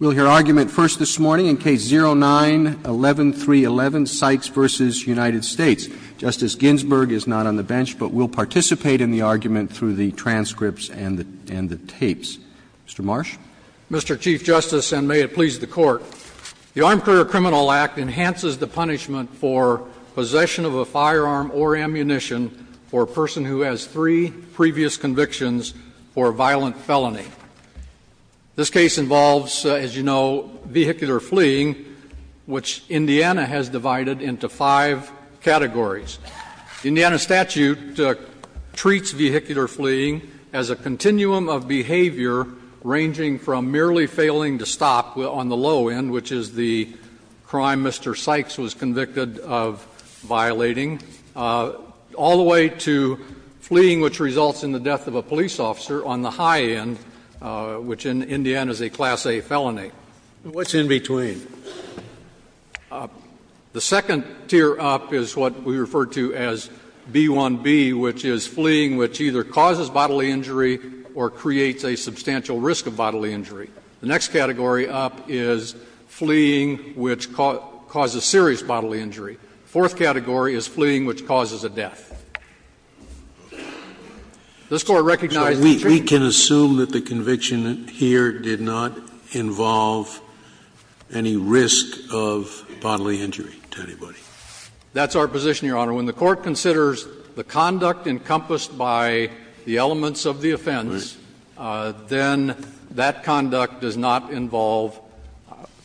We'll hear argument first this morning in Case 09-11311, Sykes v. United States. Justice Ginsburg is not on the bench, but will participate in the argument through the transcripts and the tapes. Mr. Marsh. Mr. Chief Justice, and may it please the Court, the Armed Career Criminal Act enhances the punishment for possession of a firearm or ammunition for a person who has three previous convictions for a violent felony. This case involves, as you know, vehicular fleeing, which Indiana has divided into five categories. The Indiana statute treats vehicular fleeing as a continuum of behavior ranging from merely failing to stop on the low end, which is the crime Mr. Sykes was convicted of violating, all the way to fleeing, which results in the death of a police officer on the high end, which in Indiana is a Class A felony. What's in between? The second tier up is what we refer to as B-1B, which is fleeing which either causes bodily injury or creates a substantial risk of bodily injury. The next category up is fleeing which causes serious bodily injury. The fourth category is fleeing which causes a death. This Court recognizes the treatment of the defendant. Scalia, we can assume that the conviction here did not involve any risk of bodily injury to anybody. That's our position, Your Honor. When the Court considers the conduct encompassed by the elements of the offense, then that conduct does not involve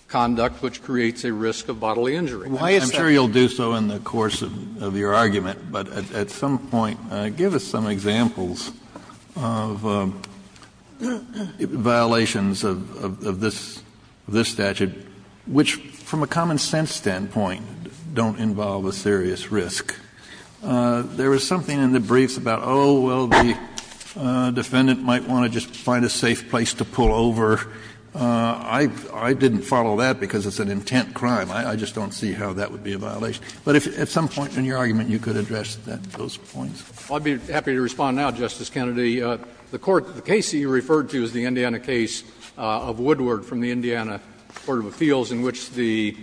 conduct which creates a risk of bodily injury. Kennedy, I'm sure you'll do so in the course of your argument, but at some point give us some examples of violations of this statute which, from a common sense standpoint, don't involve a serious risk. There was something in the briefs about, oh, well, the defendant might want to just find a safe place to pull over. I didn't follow that because it's an intent crime. I just don't see how that would be a violation. But if at some point in your argument you could address those points. I'd be happy to respond now, Justice Kennedy. The court, the case that you referred to is the Indiana case of Woodward from the Indiana Court of Appeals in which the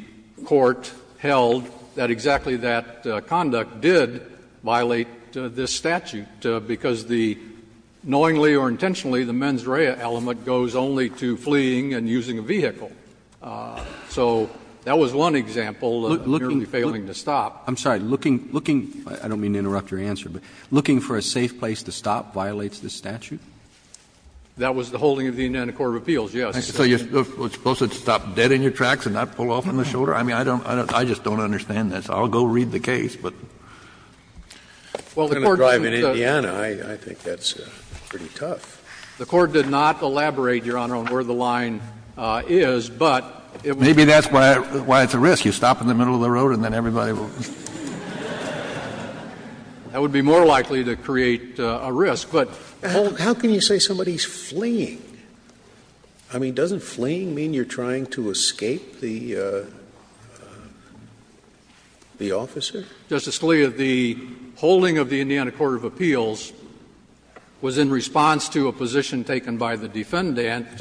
court held that exactly that conduct did violate this statute because the knowingly or intentionally the mens rea element goes only to fleeing and using a vehicle. So that was one example of merely failing to stop. Kennedy, I'm sorry. Looking, looking, I don't mean to interrupt your answer, but looking for a safe place to stop violates this statute? That was the holding of the Indiana Court of Appeals, yes. So you're supposed to stop dead in your tracks and not pull off on the shoulder? I mean, I don't, I just don't understand this. I'll go read the case, but. Well, the court doesn't. I'm going to drive in Indiana. I think that's pretty tough. The court did not elaborate, Your Honor, on where the line is, but it was. Maybe that's why it's a risk. You stop in the middle of the road and then everybody will. That would be more likely to create a risk. But how can you say somebody's fleeing? I mean, doesn't fleeing mean you're trying to escape the officer? Justice Scalia, the holding of the Indiana Court of Appeals was in response to a position taken by the defendant,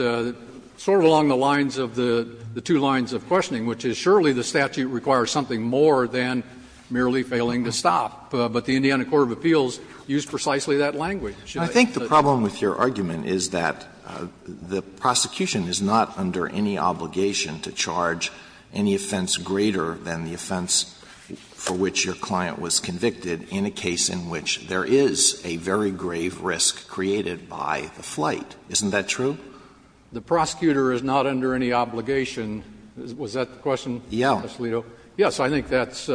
sort of along the lines of the two lines of questioning, which is surely the statute requires something more than merely failing to stop. But the Indiana Court of Appeals used precisely that language. I think the problem with your argument is that the prosecution is not under any obligation to charge any offense greater than the offense for which your client was convicted in a case in which there is a very grave risk created by the flight. Isn't that true? The prosecutor is not under any obligation. Was that the question, Justice Alito? I think that's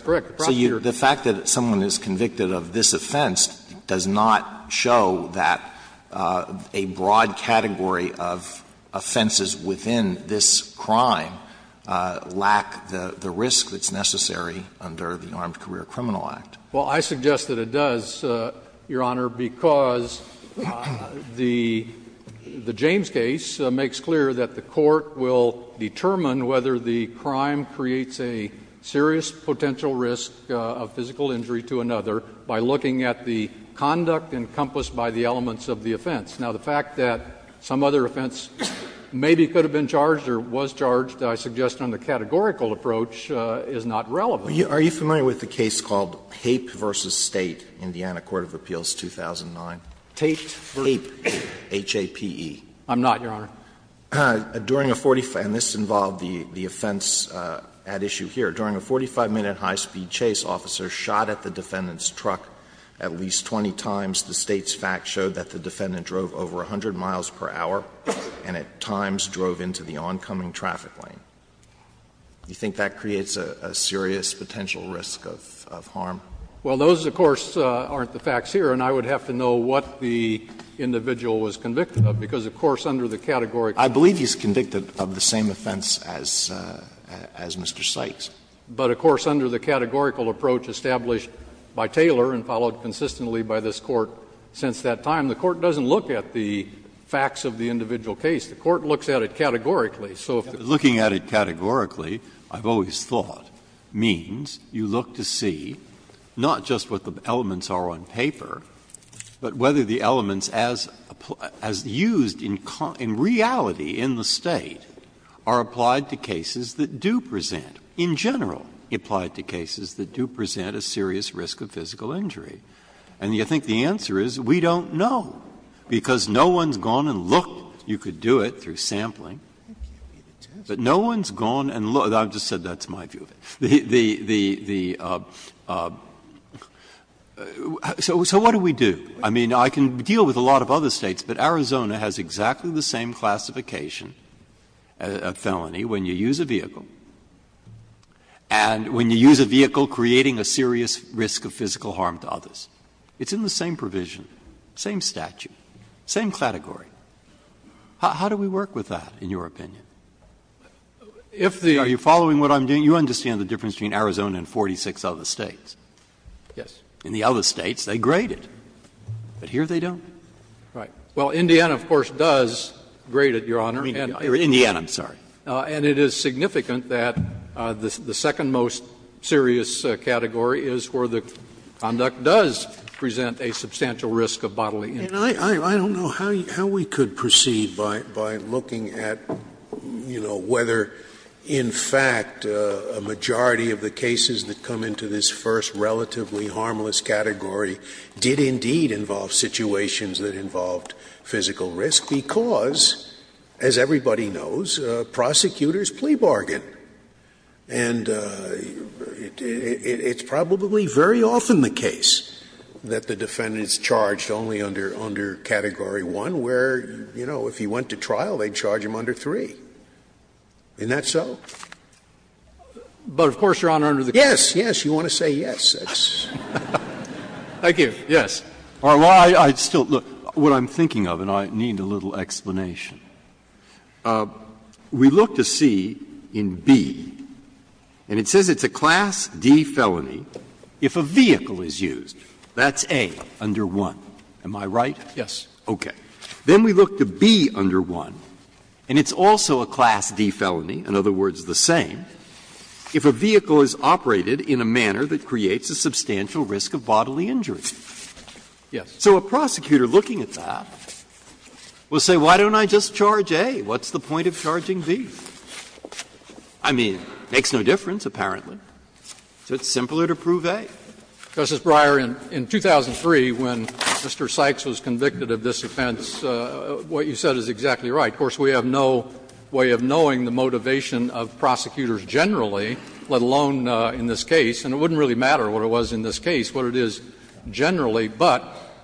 correct. The prosecutor is not under any obligation. So the fact that someone is convicted of this offense does not show that a broad category of offenses within this crime lack the risk that's necessary under the Armed Career Criminal Act. Well, I suggest that it does, Your Honor, because the James case makes clear that the Court will determine whether the crime creates a serious potential risk of physical injury to another by looking at the conduct encompassed by the elements of the offense. Now, the fact that some other offense maybe could have been charged or was charged, I suggest on the categorical approach, is not relevant. Are you familiar with the case called Hape v. State, Indiana Court of Appeals, 2009? Tate v. Hape. Hape, H-A-P-E. I'm not, Your Honor. During a 45 minute high speed chase, officers shot at the defendant's truck at least 20 times. The State's facts showed that the defendant drove over 100 miles per hour and at times drove into the oncoming traffic lane. Do you think that creates a serious potential risk of harm? Well, those, of course, aren't the facts here, and I would have to know what the individual was convicted of, because, of course, under the categorical approach. I believe he's convicted of the same offense as Mr. Sykes. But, of course, under the categorical approach established by Taylor and followed consistently by this Court since that time, the Court doesn't look at the facts of the individual case. The Court looks at it categorically. So if the Court looks at it categorically, I've always thought, means you look to see not just what the elements are on paper, but whether the elements as used in reality in the State are applied to cases that do present, in general, applied to cases that do present a serious risk of physical injury. And you think the answer is, we don't know, because no one's gone and looked. You could do it through sampling, but no one's gone and looked. I've just said that's my view of it. The — so what do we do? I mean, I can deal with a lot of other States, but Arizona has exactly the same classification of felony when you use a vehicle. And when you use a vehicle creating a serious risk of physical harm to others. It's in the same provision, same statute, same category. How do we work with that, in your opinion? If the other States, they grade it, but here they don't. Right. Well, Indiana, of course, does grade it, Your Honor. Indiana, I'm sorry. And it is significant that the second most serious category is where the conduct does present a substantial risk of bodily injury. And I don't know how we could proceed by looking at, you know, whether, in fact, a majority of the cases that come into this first relatively harmless category did indeed involve situations that involved physical risk, because, as everybody knows, prosecutors plea bargain. And it's probably very often the case that the defendant is charged only under category 1, where, you know, if he went to trial, they'd charge him under 3. Isn't that so? But, of course, Your Honor, under the category 1, yes, yes, you want to say yes. Thank you. Yes. Well, I still — look, what I'm thinking of, and I need a little explanation. We look to C in B, and it says it's a Class D felony if a vehicle is used. That's A under 1. Am I right? Yes. Okay. Then we look to B under 1, and it's also a Class D felony, in other words, the same, if a vehicle is operated in a manner that creates a substantial risk of bodily injury. Yes. So a prosecutor looking at that will say, why don't I just charge A? What's the point of charging B? I mean, it makes no difference, apparently. So it's simpler to prove A. Justice Breyer, in 2003, when Mr. Sykes was convicted of this offense, what you said is exactly right. Of course, we have no way of knowing the motivation of prosecutors generally, let alone in this case, and it wouldn't really matter what it was in this case, what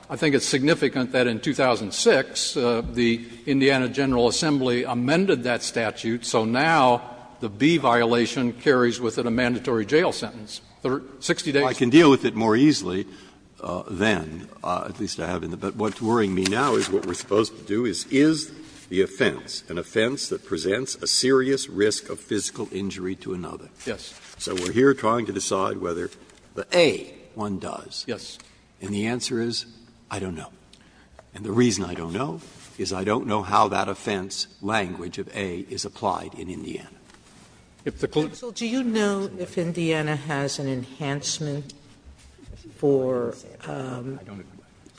I think it's significant that in 2006, the Indiana General Assembly amended that statute, so now the B violation carries with it a mandatory jail sentence, 60 days. Well, I can deal with it more easily then, at least I have in the Bet. But what's worrying me now is what we're supposed to do is, is the offense an offense that presents a serious risk of physical injury to another? Yes. So we're here trying to decide whether the A one does. Yes. And the answer is, I don't know. And the reason I don't know is I don't know how that offense language of A is applied in Indiana. Sotomayor, do you know if Indiana has an enhancement for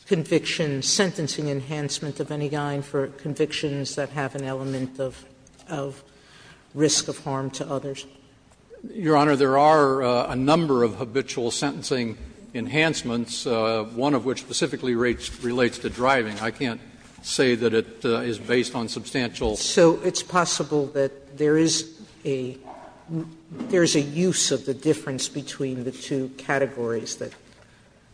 conviction, sentencing enhancement of any kind for convictions that have an element of risk of harm to others? Your Honor, there are a number of habitual sentencing enhancements, one of which specifically relates to driving. I can't say that it is based on substantial. So it's possible that there is a use of the difference between the two categories that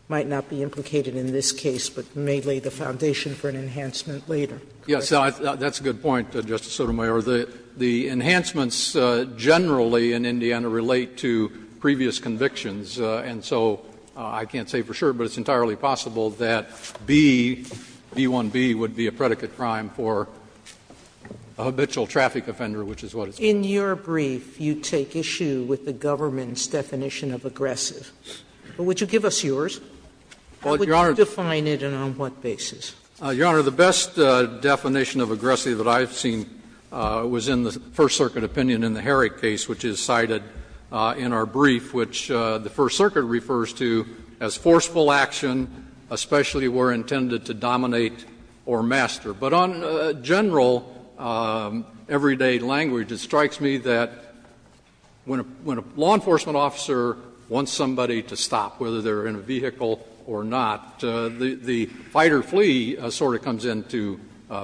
might not be implicated in this case, but may lay the foundation for an enhancement later? Yes. That's a good point, Justice Sotomayor. The enhancements generally in Indiana relate to previous convictions. And so I can't say for sure, but it's entirely possible that B, B1B, would be a predicate crime for a habitual traffic offender, which is what it's based on. In your brief, you take issue with the government's definition of aggressive. Would you give us yours? How would you define it and on what basis? Your Honor, the best definition of aggressive that I've seen was in the First Circuit opinion in the Herrick case, which is cited in our brief, which the First Circuit refers to as forceful action, especially where intended to dominate or master. But on general, everyday language, it strikes me that when a law enforcement officer wants somebody to stop, whether they're in a vehicle or not, the fighter or the person trying to flee sort of comes into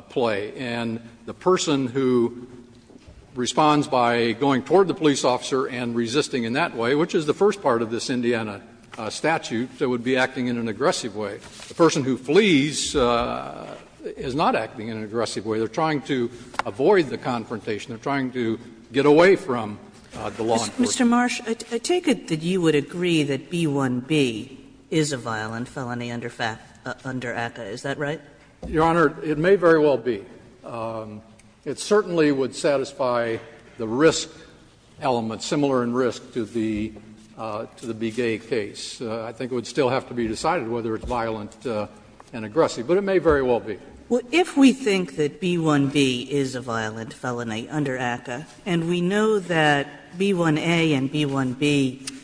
play. And the person who responds by going toward the police officer and resisting in that way, which is the first part of this Indiana statute, would be acting in an aggressive way. The person who flees is not acting in an aggressive way. They're trying to avoid the confrontation. They're trying to get away from the law enforcement. Kagan. Mr. Marsh, I take it that you would agree that B-1B is a violent felony under ACCA. Is that right? Your Honor, it may very well be. It certainly would satisfy the risk element, similar in risk to the Begay case. I think it would still have to be decided whether it's violent and aggressive, but it may very well be. If we think that B-1B is a violent felony under ACCA, and we know that B-1A and B-1B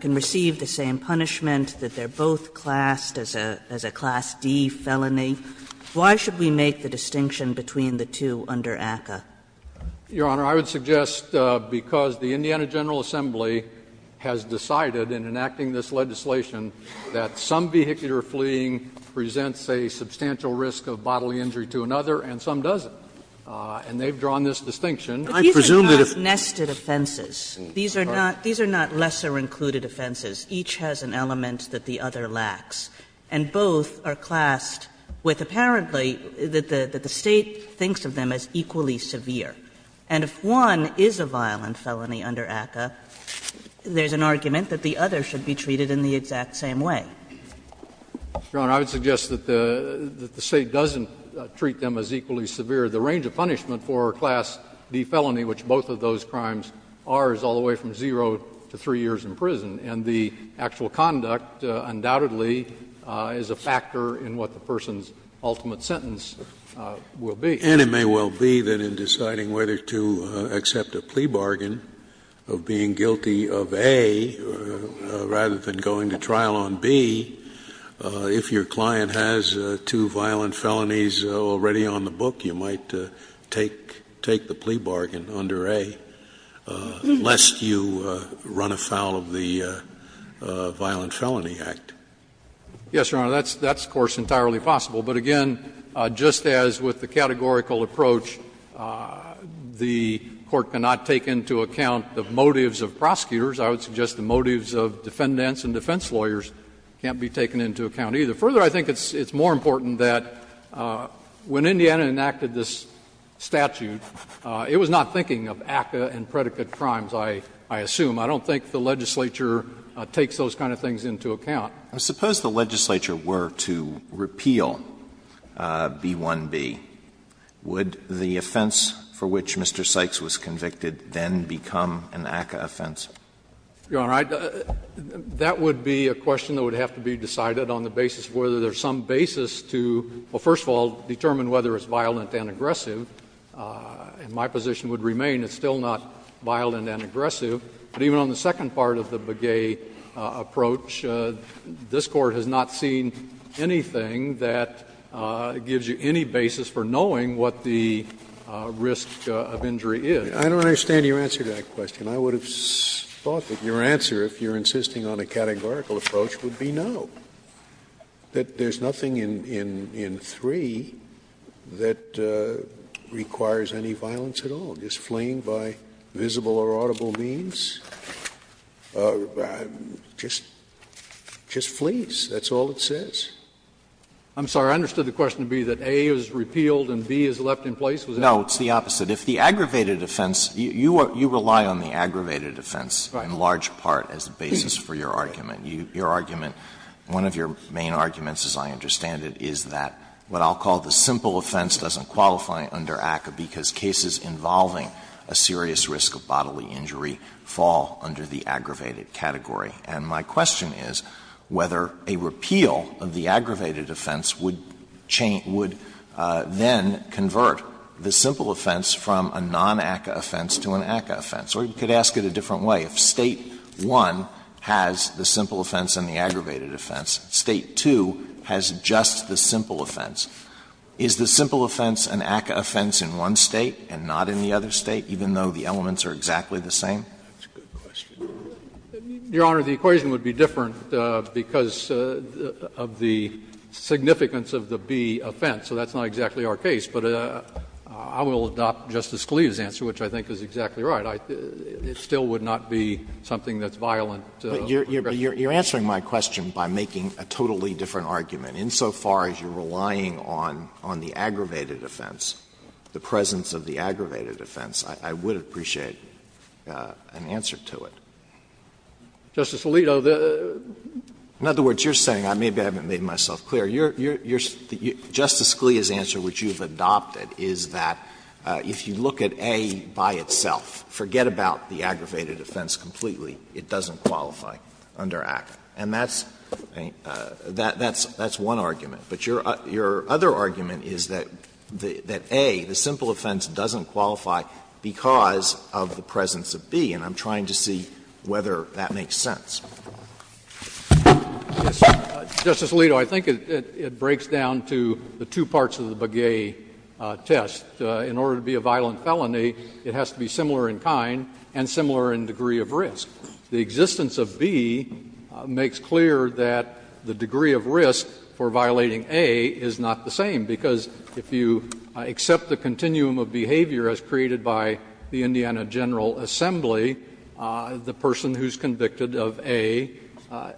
can receive the same punishment, that they're both classed as a Class D felony, why should we make the distinction between the two under ACCA? Your Honor, I would suggest because the Indiana General Assembly has decided in enacting this legislation that some vehicular fleeing presents a substantial risk of bodily injury to another and some doesn't, and they've drawn this distinction. I presume that if the State thinks of them as equally severe, and if one is a violent felony under ACCA, there's an argument that the other should be treated equally severely. And if the State thinks that the other is a violent felony under ACCA, then the other should be treated in the exact same way. Your Honor, I would suggest that the State doesn't treat them as equally severe. The range of punishment for a Class D felony, which both of those crimes are, is all the way from zero to 3 years in prison, and the actual conduct undoubtedly is a factor in what the person's ultimate sentence will be. And it may well be that in deciding whether to accept a plea bargain of being guilty of A rather than going to trial on B, if your client has two violent felonies already on the book, you might take the plea bargain under A, lest you run afoul of the Violent Felony Act. Yes, Your Honor, that's, of course, entirely possible. But again, just as with the categorical approach, the Court cannot take into account the motives of prosecutors, I would suggest the motives of defendants and defense lawyers can't be taken into account, either. Further, I think it's more important that when Indiana enacted this statute, it was not thinking of ACCA and predicate crimes, I assume. I don't think the legislature takes those kind of things into account. Alito, I suppose the legislature were to repeal B-1-B, would the offense for which Mr. Sykes was convicted then become an ACCA offense? Your Honor, that would be a question that would have to be decided on the basis of whether there's some basis to, well, first of all, determine whether it's violent and aggressive. In my position, it would remain it's still not violent and aggressive. But even on the second part of the Begay approach, this Court has not seen anything that gives you any basis for knowing what the risk of injury is. I don't understand your answer to that question. I would have thought that your answer, if you're insisting on a categorical approach, would be no, that there's nothing in 3 that requires any violence at all, just fleeing by visible or audible means, just flees, that's all it says. I'm sorry, I understood the question to be that A is repealed and B is left in place. Alito, it's the opposite. If the aggravated offense, you rely on the aggravated offense in large part as the basis for your argument. Your argument, one of your main arguments, as I understand it, is that what I'll the simple offense doesn't qualify under ACCA, because cases involving a serious risk of bodily injury fall under the aggravated category. And my question is whether a repeal of the aggravated offense would then convert the simple offense from a non-ACCA offense to an ACCA offense. Or you could ask it a different way. If State 1 has the simple offense and the aggravated offense, State 2 has just the non-ACCA offense, is the simple offense an ACCA offense in one State and not in the other State, even though the elements are exactly the same? That's a good question. Your Honor, the equation would be different because of the significance of the B offense, so that's not exactly our case. But I will adopt Justice Scalia's answer, which I think is exactly right. It still would not be something that's violent. But you're answering my question by making a totally different argument. Insofar as you're relying on the aggravated offense, the presence of the aggravated offense, I would appreciate an answer to it. In other words, you're saying, maybe I haven't made myself clear, Justice Scalia's answer, which you've adopted, is that if you look at A by itself, forget about the aggravated offense completely, it doesn't qualify under ACCA. And that's one argument. But your other argument is that A, the simple offense, doesn't qualify because of the presence of B, and I'm trying to see whether that makes sense. Yes, sir. Justice Alito, I think it breaks down to the two parts of the Begay test. In order to be a violent felony, it has to be similar in kind and similar in degree of risk. The existence of B makes clear that the degree of risk for violating A is not the same, because if you accept the continuum of behavior as created by the Indiana General Assembly, the person who's convicted of A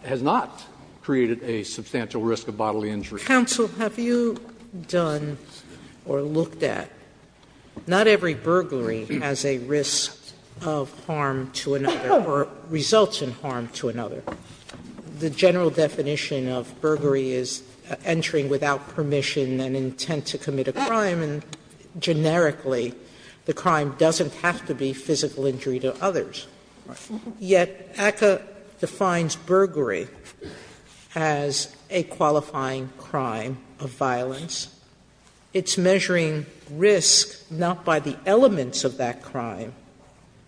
has not created a substantial risk of bodily injury. Sotomayor, have you done or looked at, not every burglary has a risk of harm to another or results in harm to another. The general definition of burglary is entering without permission and intent to commit a crime, and generically, the crime doesn't have to be physical injury to others. Yet, ACCA defines burglary as a qualifying crime of violence. It's measuring risk not by the elements of that crime,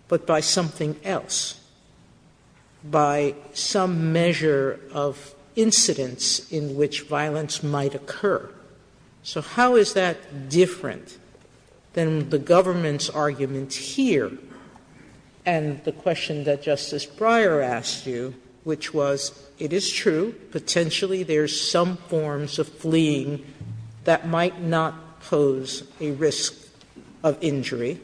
but by something else. By some measure of incidence in which violence might occur. So how is that different than the government's argument here and the question that Justice Breyer asked you, which was, it is true, potentially there's some forms of fleeing that might not pose a risk of injury,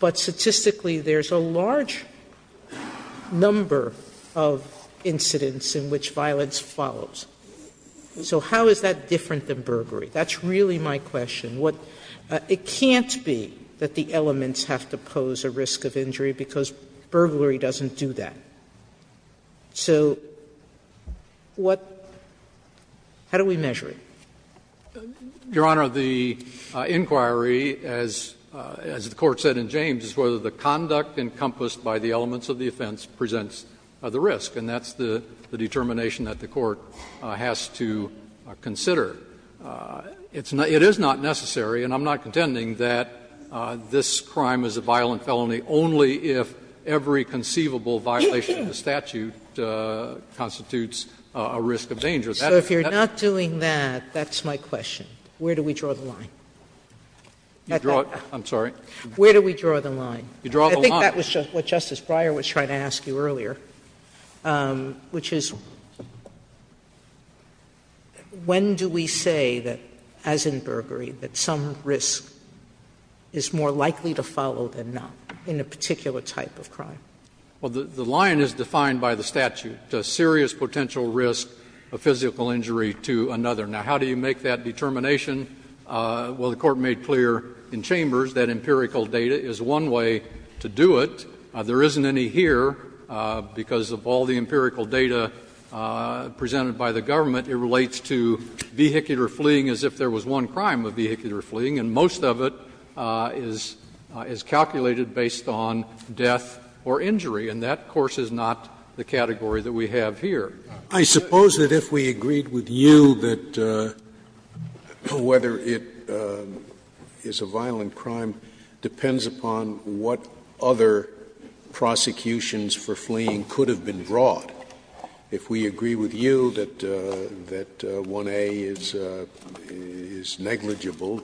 but statistically, there's a large number of incidents in which violence follows. So how is that different than burglary? That's really my question. What the can't be that the elements have to pose a risk of injury because burglary doesn't do that. So what do we measure? Your Honor, the inquiry, as the Court said in James, is whether the conduct encompassed by the elements of the offense presents the risk, and that's the determination that the Court has to consider. It is not necessary, and I'm not contending, that this crime is a violent felony only if every conceivable violation of the statute constitutes a risk of danger. That is not the case. Sotomayor, that's my question. Where do we draw the line? Where do we draw the line? You draw the line. Sotomayor, I think that was what Justice Breyer was trying to ask you earlier, which is when do we say that, as in burglary, that some risk is more likely to follow than not in a particular type of crime? Well, the line is defined by the statute, a serious potential risk of physical injury to another. Now, how do you make that determination? Well, the Court made clear in Chambers that empirical data is one way to do it. There isn't any here, because of all the empirical data presented by the government. It relates to vehicular fleeing as if there was one crime of vehicular fleeing, and most of it is calculated based on death or injury, and that, of course, is not the category that we have here. Scalia, I suppose that if we agreed with you that whether it is a violent crime depends upon what other prosecutions for fleeing could have been brought. If we agree with you that 1A is negligible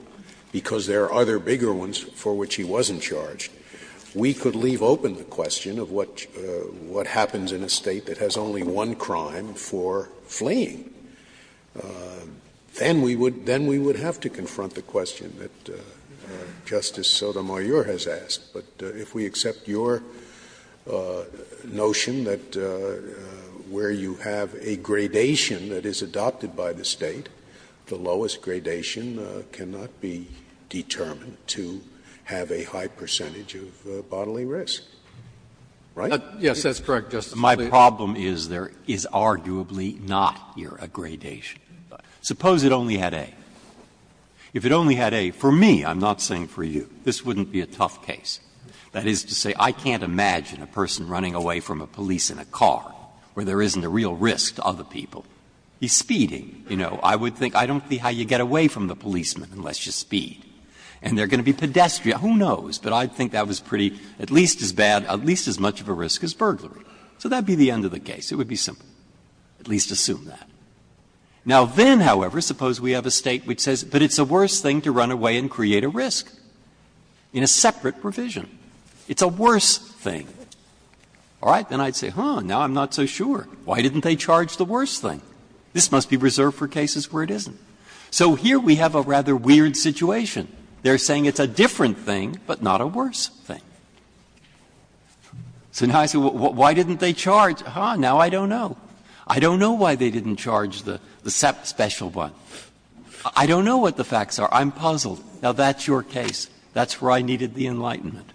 because there are other bigger ones for which he wasn't charged, we could leave open the question of what happens in a State that has only one crime for fleeing. Then we would have to confront the question that Justice Sotomayor has asked. But if we accept your notion that where you have a gradation that is adopted by the State, the lowest gradation cannot be determined to have a high percentage of bodily risk, right? Yes, that's correct, Justice Scalia. Breyer, my problem is there is arguably not here a gradation. Suppose it only had A. If it only had A, for me, I'm not saying for you, this wouldn't be a tough case. That is to say, I can't imagine a person running away from a police in a car where there isn't a real risk to other people. He's speeding, you know. I would think, I don't see how you get away from the policeman unless you speed. And they are going to be pedestrian, who knows, but I think that was pretty, at least as bad, at least as much of a risk as burglary. So that would be the end of the case. It would be simple. At least assume that. Now, then, however, suppose we have a State which says, but it's the worst thing to run away and create a risk in a separate provision. It's a worse thing. All right. Then I would say, huh, now I'm not so sure. Why didn't they charge the worst thing? This must be reserved for cases where it isn't. So here we have a rather weird situation. They are saying it's a different thing, but not a worse thing. So now I say, why didn't they charge? Huh, now I don't know. I don't know why they didn't charge the special one. I don't know what the facts are. I'm puzzled. Now, that's your case. That's where I needed the enlightenment.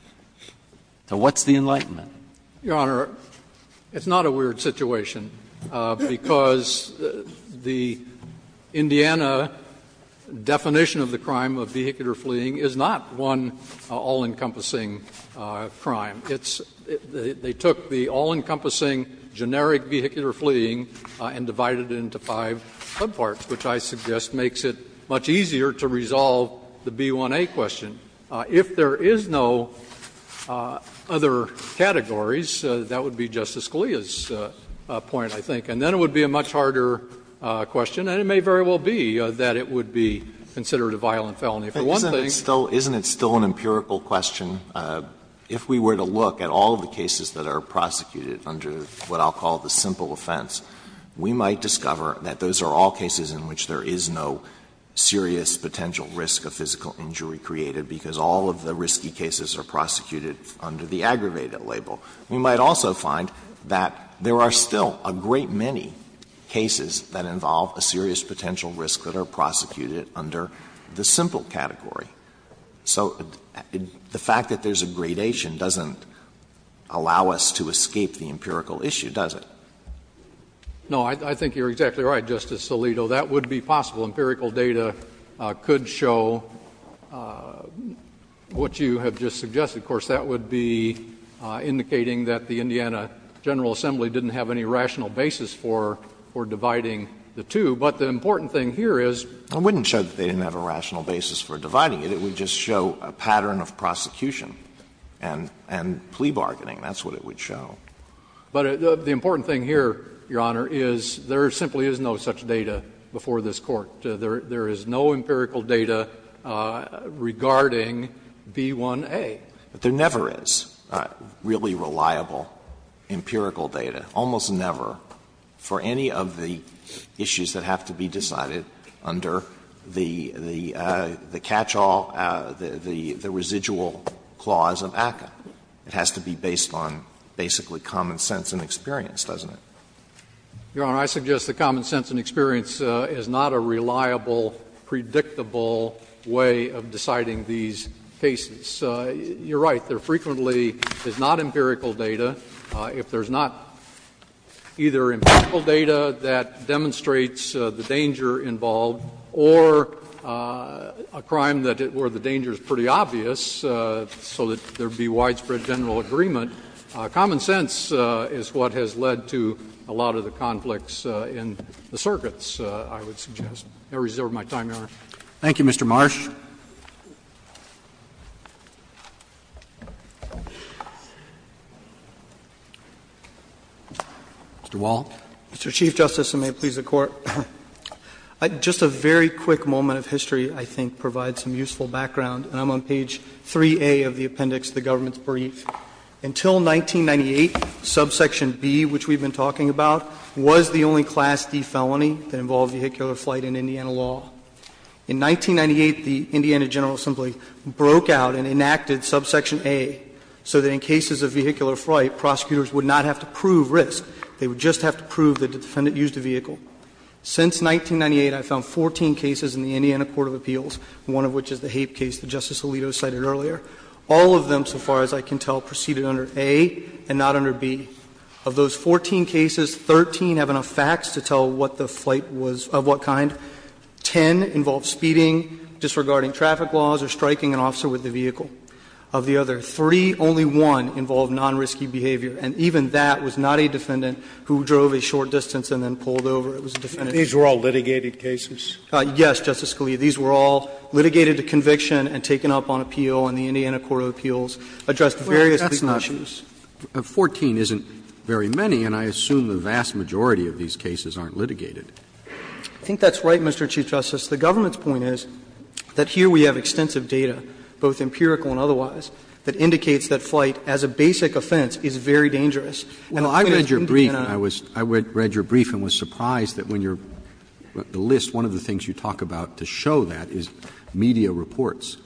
So what's the enlightenment? Your Honor, it's not a weird situation, because the Indiana definition of the crime of vehicular fleeing is not one all-encompassing crime. It's they took the all-encompassing generic vehicular fleeing and divided it into five subparts, which I suggest makes it much easier to resolve the B1A question. If there is no other categories, that would be Justice Scalia's point, I think. And then it would be a much harder question, and it may very well be that it would be considered a violent felony for one thing. Alito, isn't it still an empirical question? If we were to look at all the cases that are prosecuted under what I'll call the simple offense, we might discover that those are all cases in which there is no serious potential risk of physical injury created, because all of the risky cases are prosecuted under the aggravated label. We might also find that there are still a great many cases that involve a serious potential risk that are prosecuted under the simple category. So the fact that there's a gradation doesn't allow us to escape the empirical issue, does it? No, I think you're exactly right, Justice Alito. That would be possible. Empirical data could show what you have just suggested. Of course, that would be indicating that the Indiana General Assembly didn't have any rational basis for dividing the two, but the important thing here is they didn't have a rational basis for dividing it. It would just show a pattern of prosecution and plea bargaining. That's what it would show. But the important thing here, Your Honor, is there simply is no such data before this Court. There is no empirical data regarding B1A. But there never is really reliable empirical data, almost never, for any of the issues that have to be decided under the catchall, the residual clause of ACCA. It has to be based on basically common sense and experience, doesn't it? Your Honor, I suggest that common sense and experience is not a reliable, predictable way of deciding these cases. You're right. There frequently is not empirical data. If there's not either empirical data that demonstrates the danger involved or a crime that where the danger is pretty obvious, so that there would be widespread general agreement, common sense is what has led to a lot of the conflicts in the circuits, I reserve my time, Your Honor. Thank you, Mr. Marsh. Mr. Wall. Mr. Chief Justice, and may it please the Court, just a very quick moment of history I think provides some useful background. And I'm on page 3A of the appendix to the government's brief. Until 1998, subsection B, which we've been talking about, was the only Class D felony that involved vehicular flight in Indiana law. In 1998, the Indiana General Assembly broke out and enacted subsection A so that in cases of vehicular flight, prosecutors would not have to prove risk. They would just have to prove that the defendant used the vehicle. Since 1998, I've found 14 cases in the Indiana court of appeals, one of which is the Hape case that Justice Alito cited earlier. All of them, so far as I can tell, proceeded under A and not under B. Of those 14 cases, 13 have enough facts to tell what the flight was of what kind. Ten involved speeding, disregarding traffic laws or striking an officer with the vehicle. Of the other three, only one involved non-risky behavior, and even that was not a defendant who drove a short distance and then pulled over. It was a defendant who was not. Scalia. These were all litigated cases? Yes, Justice Scalia. These were all litigated to conviction and taken up on appeal, and the Indiana court of appeals addressed various legal issues. 14 isn't very many, and I assume the vast majority of these cases aren't litigated. I think that's right, Mr. Chief Justice. The government's point is that here we have extensive data, both empirical and otherwise, that indicates that flight as a basic offense is very dangerous. And the point is that Indiana is not. I read your brief and was surprised that when you're at the list, one of the things you talk about to show that is media reports.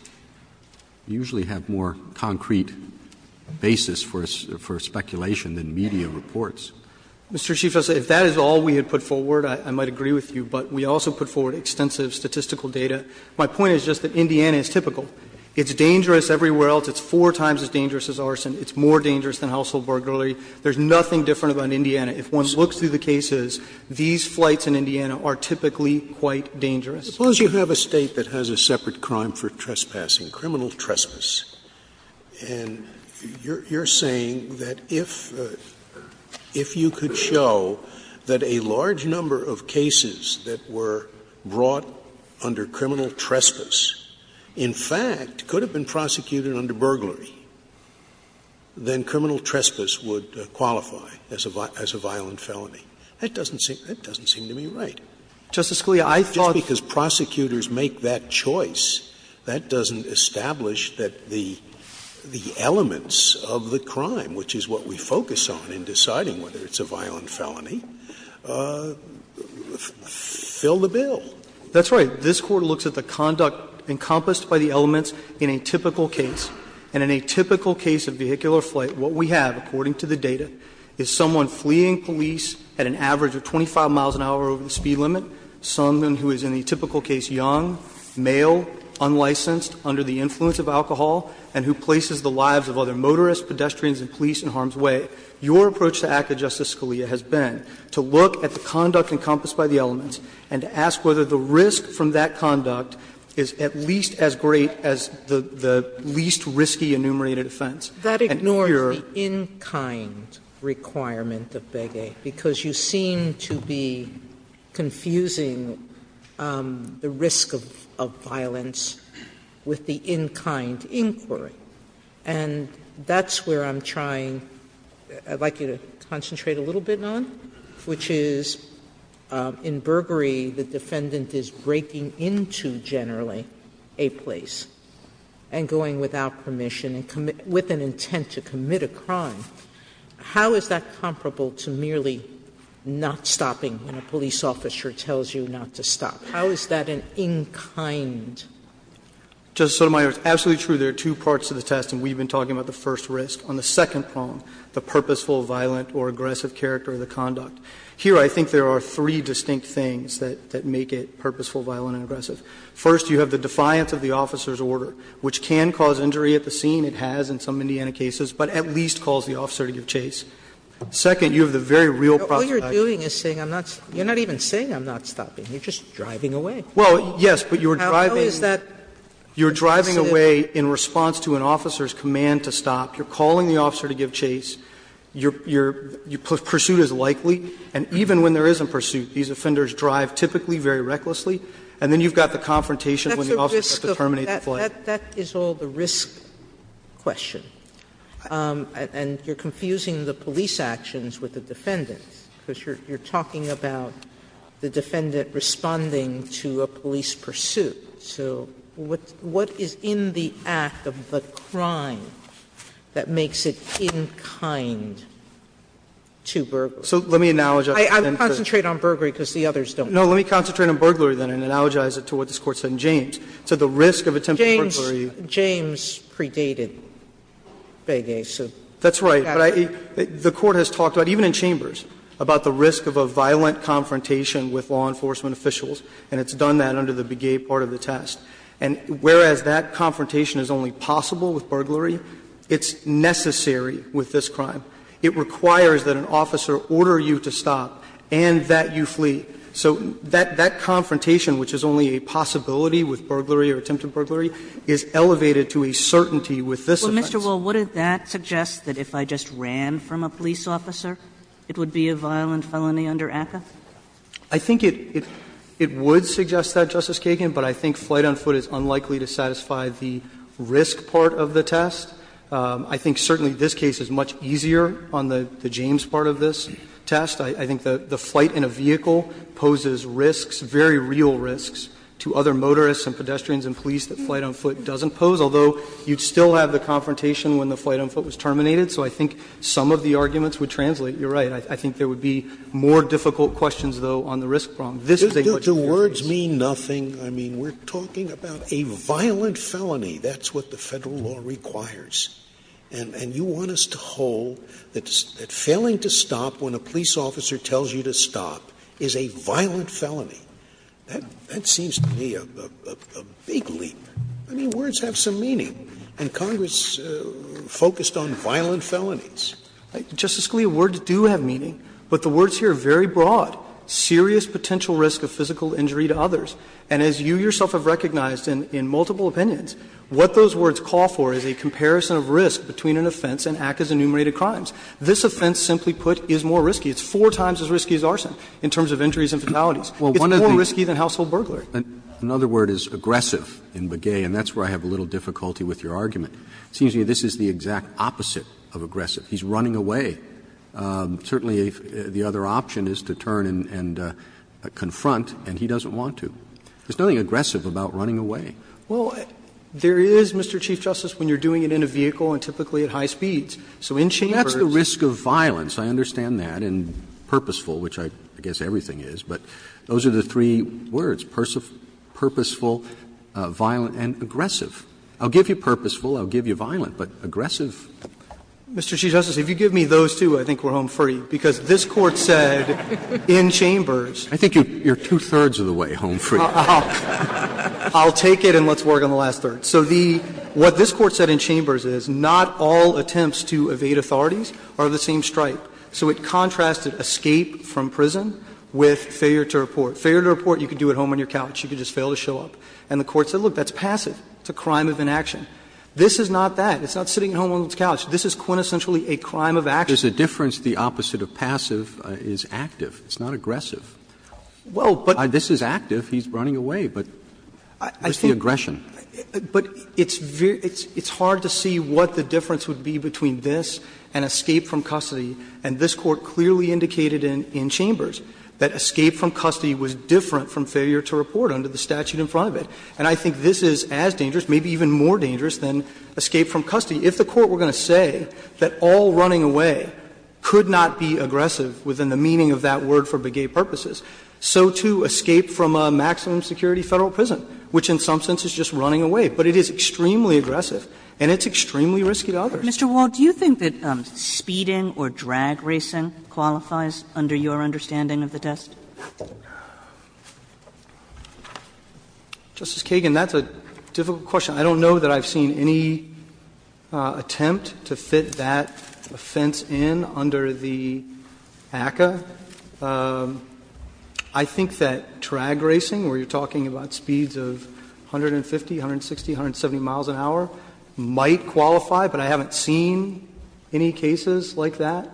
You usually have more concrete basis for speculation than media reports. Mr. Chief Justice, if that is all we had put forward, I might agree with you, but we also put forward extensive statistical data. My point is just that Indiana is typical. It's dangerous everywhere else. It's four times as dangerous as arson. It's more dangerous than household burglary. There's nothing different about Indiana. If one looks through the cases, these flights in Indiana are typically quite dangerous. Suppose you have a State that has a separate crime for trespassing, criminal trespass, and you're saying that if you could show that a large number of cases that were brought under criminal trespass, in fact, could have been prosecuted under burglary, then criminal trespass would qualify as a violent felony. That doesn't seem to me right. Just because prosecutors make that choice, that doesn't establish that there's a violent felony, it doesn't establish that the elements of the crime, which is what we focus on in deciding whether it's a violent felony, fill the bill. That's right. This Court looks at the conduct encompassed by the elements in a typical case, and in a typical case of vehicular flight, what we have, according to the data, is someone fleeing police at an average of 25 miles an hour over the speed limit, someone who is in a typical case young, male, unlicensed, under the influence of alcohol, and who places the lives of other motorists, pedestrians, and police in harm's way. Your approach to Act of Justice Scalia has been to look at the conduct encompassed by the elements and to ask whether the risk from that conduct is at least as great as the least risky enumerated offense. And here you are. Sotomayor, that ignores the in-kind requirement of Begay, because you seem to be confusing the risk of violence with the in-kind inquiry. And that's where I'm trying to concentrate a little bit on, which is in Burgery the defendant is breaking into, generally, a place and going without permission with an intent to commit a crime. How is that comparable to merely not stopping when a police officer tells you not to stop? How is that an in-kind? Garrett, it's absolutely true there are two parts to the test, and we've been talking about the first risk. On the second prong, the purposeful, violent, or aggressive character of the conduct. Here, I think there are three distinct things that make it purposeful, violent, and aggressive. First, you have the defiance of the officer's order, which can cause injury at the scene. It has in some Indiana cases, but at least calls the officer to give chase. Second, you have the very real prospect of action. Sotomayor, all you're doing is saying I'm not stopping. You're not even saying I'm not stopping. You're just driving away. Well, yes, but you're driving away in response to an officer's command to stop. You're calling the officer to give chase. Your pursuit is likely, and even when there isn't pursuit, these offenders drive typically very recklessly, and then you've got the confrontation when the officer has to terminate the flight. That is all the risk question, and you're confusing the police actions with the defendants, because you're talking about the defendant responding to a police pursuit. So what is in the act of the crime that makes it in kind to burglary? So let me analogize it then to the others. I would concentrate on burglary because the others don't. No, let me concentrate on burglary then and analogize it to what this Court said in James. It said the risk of attempted burglary. James predated Begay, so that's accurate. That's right. But the Court has talked about, even in Chambers, about the risk of a violent confrontation with law enforcement officials, and it's done that under the Begay part of the test. And whereas that confrontation is only possible with burglary, it's necessary with this crime. It requires that an officer order you to stop and that you flee. So that confrontation, which is only a possibility with burglary or attempted burglary, is elevated to a certainty with this offense. Kagan, what does that suggest, that if I just ran from a police officer, it would be a violent felony under ACCA? I think it would suggest that, Justice Kagan, but I think flight on foot is unlikely to satisfy the risk part of the test. I think certainly this case is much easier on the James part of this test. I think the flight in a vehicle poses risks, very real risks, to other motorists and pedestrians and police that flight on foot doesn't pose, although you'd still have the confrontation when the flight on foot was terminated. So I think some of the arguments would translate. You're right. I think there would be more difficult questions, though, on the risk prong. This is a much easier case. Scalia, do words mean nothing? I mean, we're talking about a violent felony. That's what the Federal law requires. And you want us to hold that failing to stop when a police officer tells you to stop is a violent felony. That seems to me a big leap. I mean, words have some meaning. And Congress focused on violent felonies. Justice Scalia, words do have meaning, but the words here are very broad. Serious potential risk of physical injury to others. And as you yourself have recognized in multiple opinions, what those words call for is a comparison of risk between an offense and act as enumerated crimes. This offense, simply put, is more risky. It's four times as risky as arson in terms of injuries and fatalities. It's more risky than household burglary. Roberts, another word is aggressive in Begay, and that's where I have a little difficulty with your argument. It seems to me this is the exact opposite of aggressive. He's running away. Certainly, the other option is to turn and confront, and he doesn't want to. There's nothing aggressive about running away. Well, there is, Mr. Chief Justice, when you're doing it in a vehicle and typically at high speeds. So in chambers ---- That's the risk of violence, I understand that, and purposeful, which I guess everything is. But those are the three words, purposeful, violent, and aggressive. I'll give you purposeful, I'll give you violent, but aggressive? Mr. Chief Justice, if you give me those two, I think we're home free, because this Court said in chambers ---- I think you're two-thirds of the way home free. I'll take it and let's work on the last third. So the ---- what this Court said in chambers is not all attempts to evade authorities are the same stripe. So it contrasted escape from prison with failure to report. Failure to report, you can do at home on your couch, you can just fail to show up. And the Court said, look, that's passive, it's a crime of inaction. This is not that. It's not sitting at home on the couch. This is quintessentially a crime of action. There's a difference. The opposite of passive is active. It's not aggressive. Well, but ---- This is active, he's running away, but it's the aggression. But it's very ---- it's hard to see what the difference would be between this and escape from custody, and this Court clearly indicated in chambers that escape from custody was different from failure to report under the statute in front of it. And I think this is as dangerous, maybe even more dangerous, than escape from custody. If the Court were going to say that all running away could not be aggressive within the meaning of that word for begay purposes, so too escape from a maximum security Federal prison, which in some sense is just running away. But it is extremely aggressive and it's extremely risky to others. Mr. Wald, do you think that speeding or drag racing qualifies under your understanding of the test? Justice Kagan, that's a difficult question. I don't know that I've seen any attempt to fit that offense in under the ACCA. I think that drag racing, where you're talking about speeds of 150, 160, 170 miles an hour, might qualify, but I haven't seen any cases like that.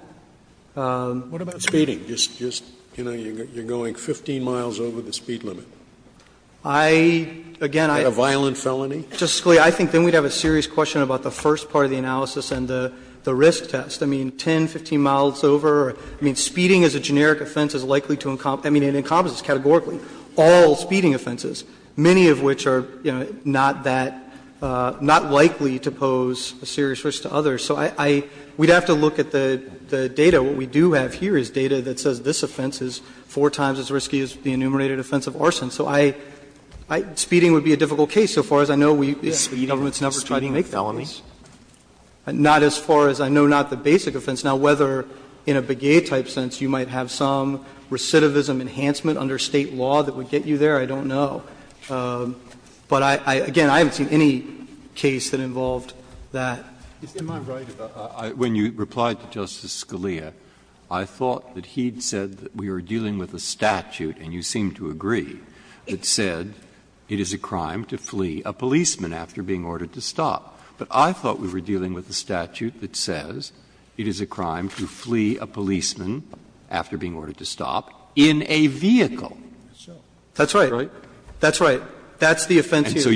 Scalia, I think then we'd have a serious question about the first part of the analysis and the risk test. I mean, 10, 15 miles over, I mean, speeding as a generic offense is likely to encomp ---- I mean, it encompasses categorically all speeding offenses, many of which are not that ---- not likely to pose a serious risk to others. So I ---- we'd have to look at the data. What we do have here is data that says this offense is four times as risky as the enumerated offense of arson. So I ---- speeding would be a difficult case so far as I know we ---- Roberts, government's never tried to make felonies. Not as far as I know, not the basic offense. Now, whether in a begay-type sense you might have some recidivism enhancement under State law that would get you there, I don't know. But I ---- again, I haven't seen any case that involved that. Breyer, when you replied to Justice Scalia, I thought that he'd said that we were dealing with a statute, and you seem to agree, that said it is a crime to flee a policeman after being ordered to stop. But I thought we were dealing with a statute that says it is a crime to flee a policeman after being ordered to stop in a vehicle. That's right. That's right. That's the offense here.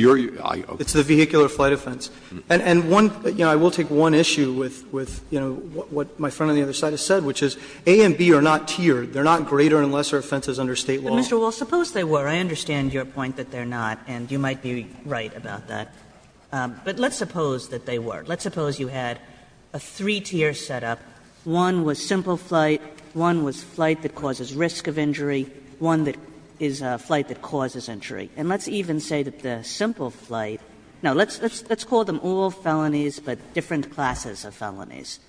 It's the vehicular flight offense. And one ---- you know, I will take one issue with what my friend on the other side has said, which is A and B are not tiered. They are not greater and lesser offenses under State law. Kagan, Mr. Wall, suppose they were. I understand your point that they're not, and you might be right about that. But let's suppose that they were. Let's suppose you had a three-tier setup. One was simple flight. One was flight that causes risk of injury. One that is flight that causes injury. And let's even say that the simple flight ---- now, let's call them all felonies, but different classes of felonies.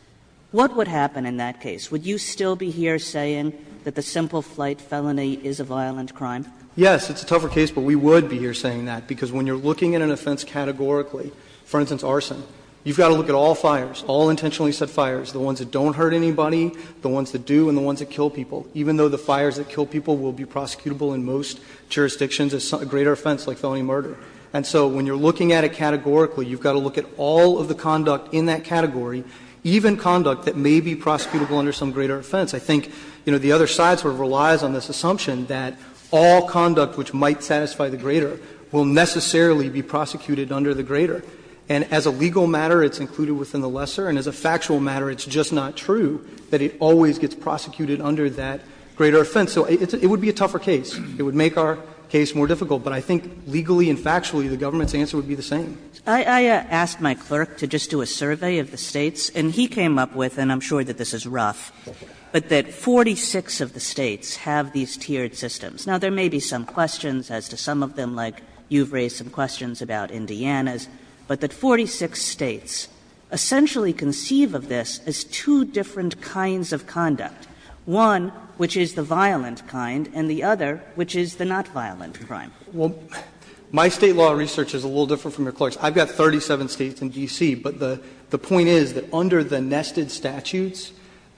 What would happen in that case? Would you still be here saying that the simple flight felony is a violent crime? Yes. It's a tougher case, but we would be here saying that, because when you're looking at an offense categorically, for instance, arson, you've got to look at all fires, all intentionally set fires, the ones that don't hurt anybody, the ones that do, and the ones that kill people. Even though the fires that kill people will be prosecutable in most jurisdictions as a greater offense, like felony murder. And so when you're looking at it categorically, you've got to look at all of the conduct in that category, even conduct that may be prosecutable under some greater offense. I think, you know, the other side sort of relies on this assumption that all conduct which might satisfy the greater will necessarily be prosecuted under the greater. And as a legal matter, it's included within the lesser, and as a factual matter, it's just not true that it always gets prosecuted under that greater offense. So it would be a tougher case. It would make our case more difficult. But I think legally and factually, the government's answer would be the same. Kagan. I asked my clerk to just do a survey of the States, and he came up with, and I'm sure that this is rough, but that 46 of the States have these tiered systems. Now, there may be some questions as to some of them, like you've raised some questions as to different kinds of conduct, one which is the violent kind and the other which is the not-violent crime. Well, my State law research is a little different from your clerk's. I've got 37 States in D.C., but the point is that under the nested statutes,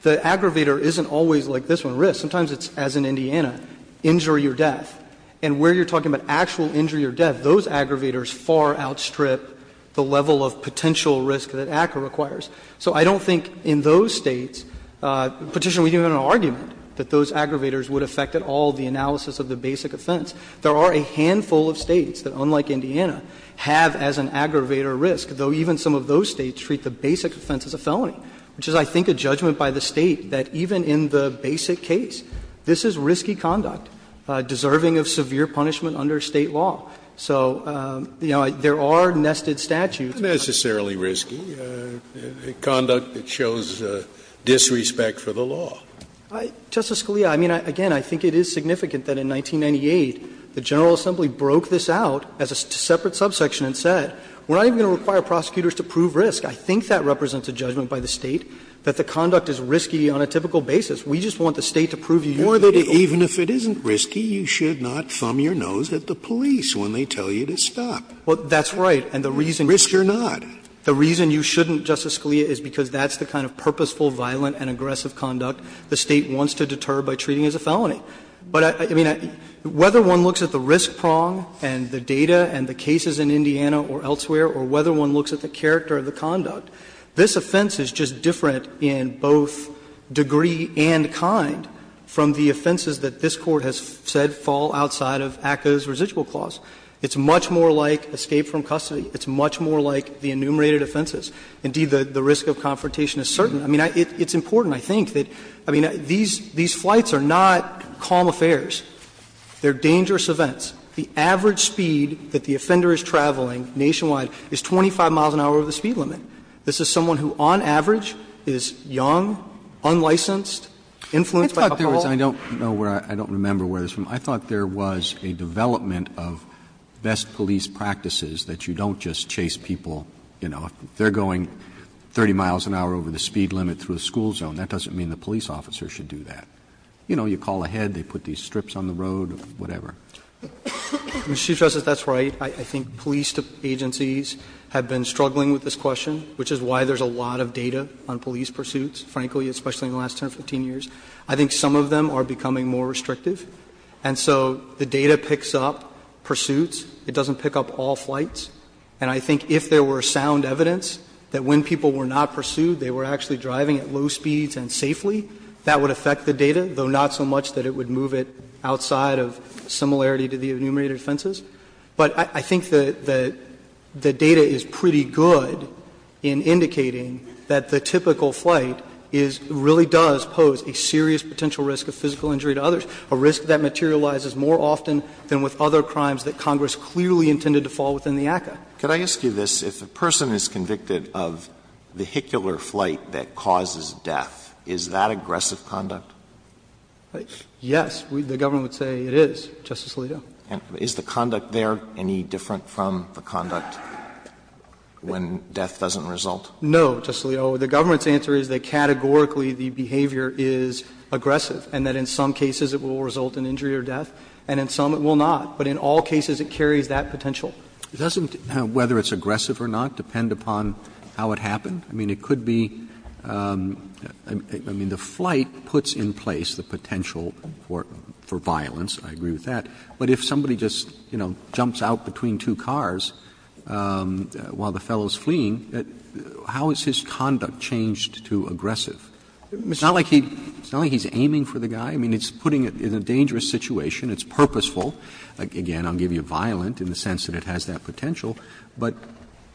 the aggravator isn't always like this one, risk. Sometimes it's, as in Indiana, injury or death. And where you're talking about actual injury or death, those aggravators far outstrip the level of potential risk that ACCA requires. So I don't think in those States, Petitioner, we don't have an argument that those aggravators would affect at all the analysis of the basic offense. There are a handful of States that, unlike Indiana, have as an aggravator risk, though even some of those States treat the basic offense as a felony, which is, I think, a judgment by the State that even in the basic case, this is risky conduct deserving of severe punishment under State law. So, you know, there are nested statutes. Scalia, I mean, again, I think it is significant that in 1998, the General Assembly broke this out as a separate subsection and said, we're not even going to require prosecutors to prove risk. I think that represents a judgment by the State that the conduct is risky on a typical basis. We just want the State to prove you that it's not. Scalia, or that even if it isn't risky, you should not thumb your nose at the police when they tell you to stop. The reason you shouldn't, Justice Scalia, is because that's the kind of purposeful, violent, and aggressive conduct the State wants to deter by treating as a felony. But, I mean, whether one looks at the risk prong and the data and the cases in Indiana or elsewhere, or whether one looks at the character of the conduct, this offense is just different in both degree and kind from the offenses that this Court has said fall outside of ACCA's residual clause. It's much more like escape from custody. It's much more like the enumerated offenses. Indeed, the risk of confrontation is certain. I mean, it's important, I think, that these flights are not calm affairs. They're dangerous events. The average speed that the offender is traveling nationwide is 25 miles an hour over the speed limit. This is someone who on average is young, unlicensed, influenced by a couple of others. Roberts, I don't know where or I don't remember where this is from. I thought there was a development of best police practices that you don't just chase people, you know, if they're going 30 miles an hour over the speed limit through a school zone, that doesn't mean the police officer should do that. You know, you call ahead, they put these strips on the road, whatever. Chief Justice, that's right. I think police agencies have been struggling with this question, which is why there's a lot of data on police pursuits, frankly, especially in the last 10 or 15 years. I think some of them are becoming more restrictive. And so the data picks up pursuits. It doesn't pick up all flights. And I think if there were sound evidence that when people were not pursued, they were actually driving at low speeds and safely, that would affect the data, though not so much that it would move it outside of similarity to the enumerated offenses. But I think the data is pretty good in indicating that the typical flight is really a serious potential risk of physical injury to others, a risk that materializes more often than with other crimes that Congress clearly intended to fall within the ACCA. Alito, if a person is convicted of vehicular flight that causes death, is that aggressive conduct? Yes, the government would say it is, Justice Alito. And is the conduct there any different from the conduct when death doesn't result? No, Justice Alito. The government's answer is that categorically the behavior is aggressive, and that in some cases it will result in injury or death, and in some it will not. But in all cases it carries that potential. Doesn't whether it's aggressive or not depend upon how it happened? I mean, it could be the flight puts in place the potential for violence. I agree with that. But if somebody just, you know, jumps out between two cars while the fellow is fleeing, how has his conduct changed to aggressive? It's not like he's aiming for the guy. I mean, it's putting it in a dangerous situation. It's purposeful. Again, I'll give you violent in the sense that it has that potential. But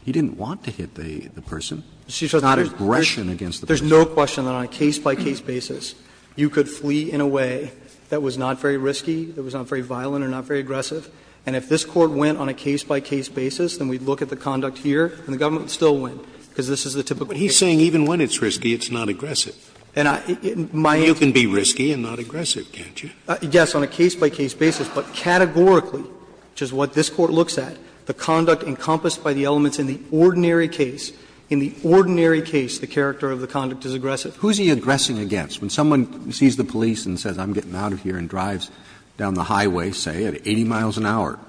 he didn't want to hit the person. It's not aggression against the person. There's no question that on a case-by-case basis you could flee in a way that was not very risky, that was not very violent or not very aggressive. And if this Court went on a case-by-case basis, then we'd look at the conduct here, and the government would still win, because this is the typical case. Scalia But he's saying even when it's risky, it's not aggressive. You can be risky and not aggressive, can't you? Yes, on a case-by-case basis. But categorically, which is what this Court looks at, the conduct encompassed by the elements in the ordinary case, in the ordinary case the character of the conduct is aggressive. Roberts Who is he aggressing against? When someone sees the police and says, I'm getting out of here, and drives down the highway, say, at 80 miles an hour,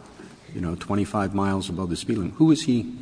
you know, 25 miles above the speed limit, who is he?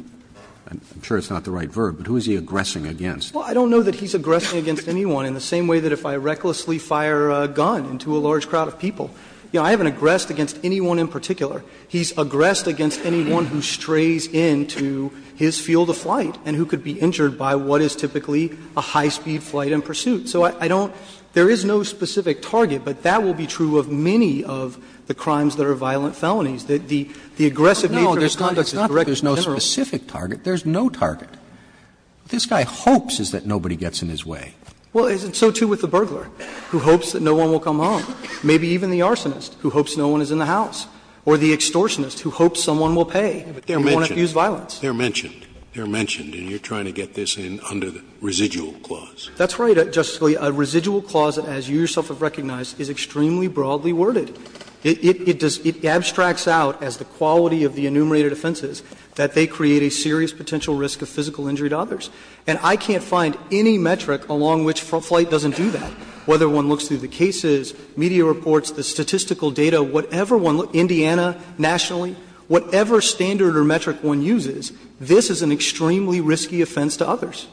I'm sure it's not the right verb, but who is he aggressing against? Well, I don't know that he's aggressing against anyone in the same way that if I recklessly fire a gun into a large crowd of people. You know, I haven't aggressed against anyone in particular. He's aggressed against anyone who strays into his field of flight and who could be injured by what is typically a high-speed flight in pursuit. So I don't – there is no specific target, but that will be true of many of the crimes that are violent felonies, that the aggressive nature of the conduct is directly related to the crime. And if there is a specific target, there is no target. What this guy hopes is that nobody gets in his way. Well, so too with the burglar, who hopes that no one will come home. Maybe even the arsonist, who hopes no one is in the house. Or the extortionist, who hopes someone will pay and won't abuse violence. They are mentioned. They are mentioned. And you are trying to get this under the residual clause. That's right, Justice Scalia. A residual clause, as you yourself have recognized, is extremely broadly worded. It does – it abstracts out as the quality of the enumerated offenses that they create a serious potential risk of physical injury to others. And I can't find any metric along which flight doesn't do that, whether one looks through the cases, media reports, the statistical data, whatever one – Indiana nationally – whatever standard or metric one uses, this is an extremely risky offense to others.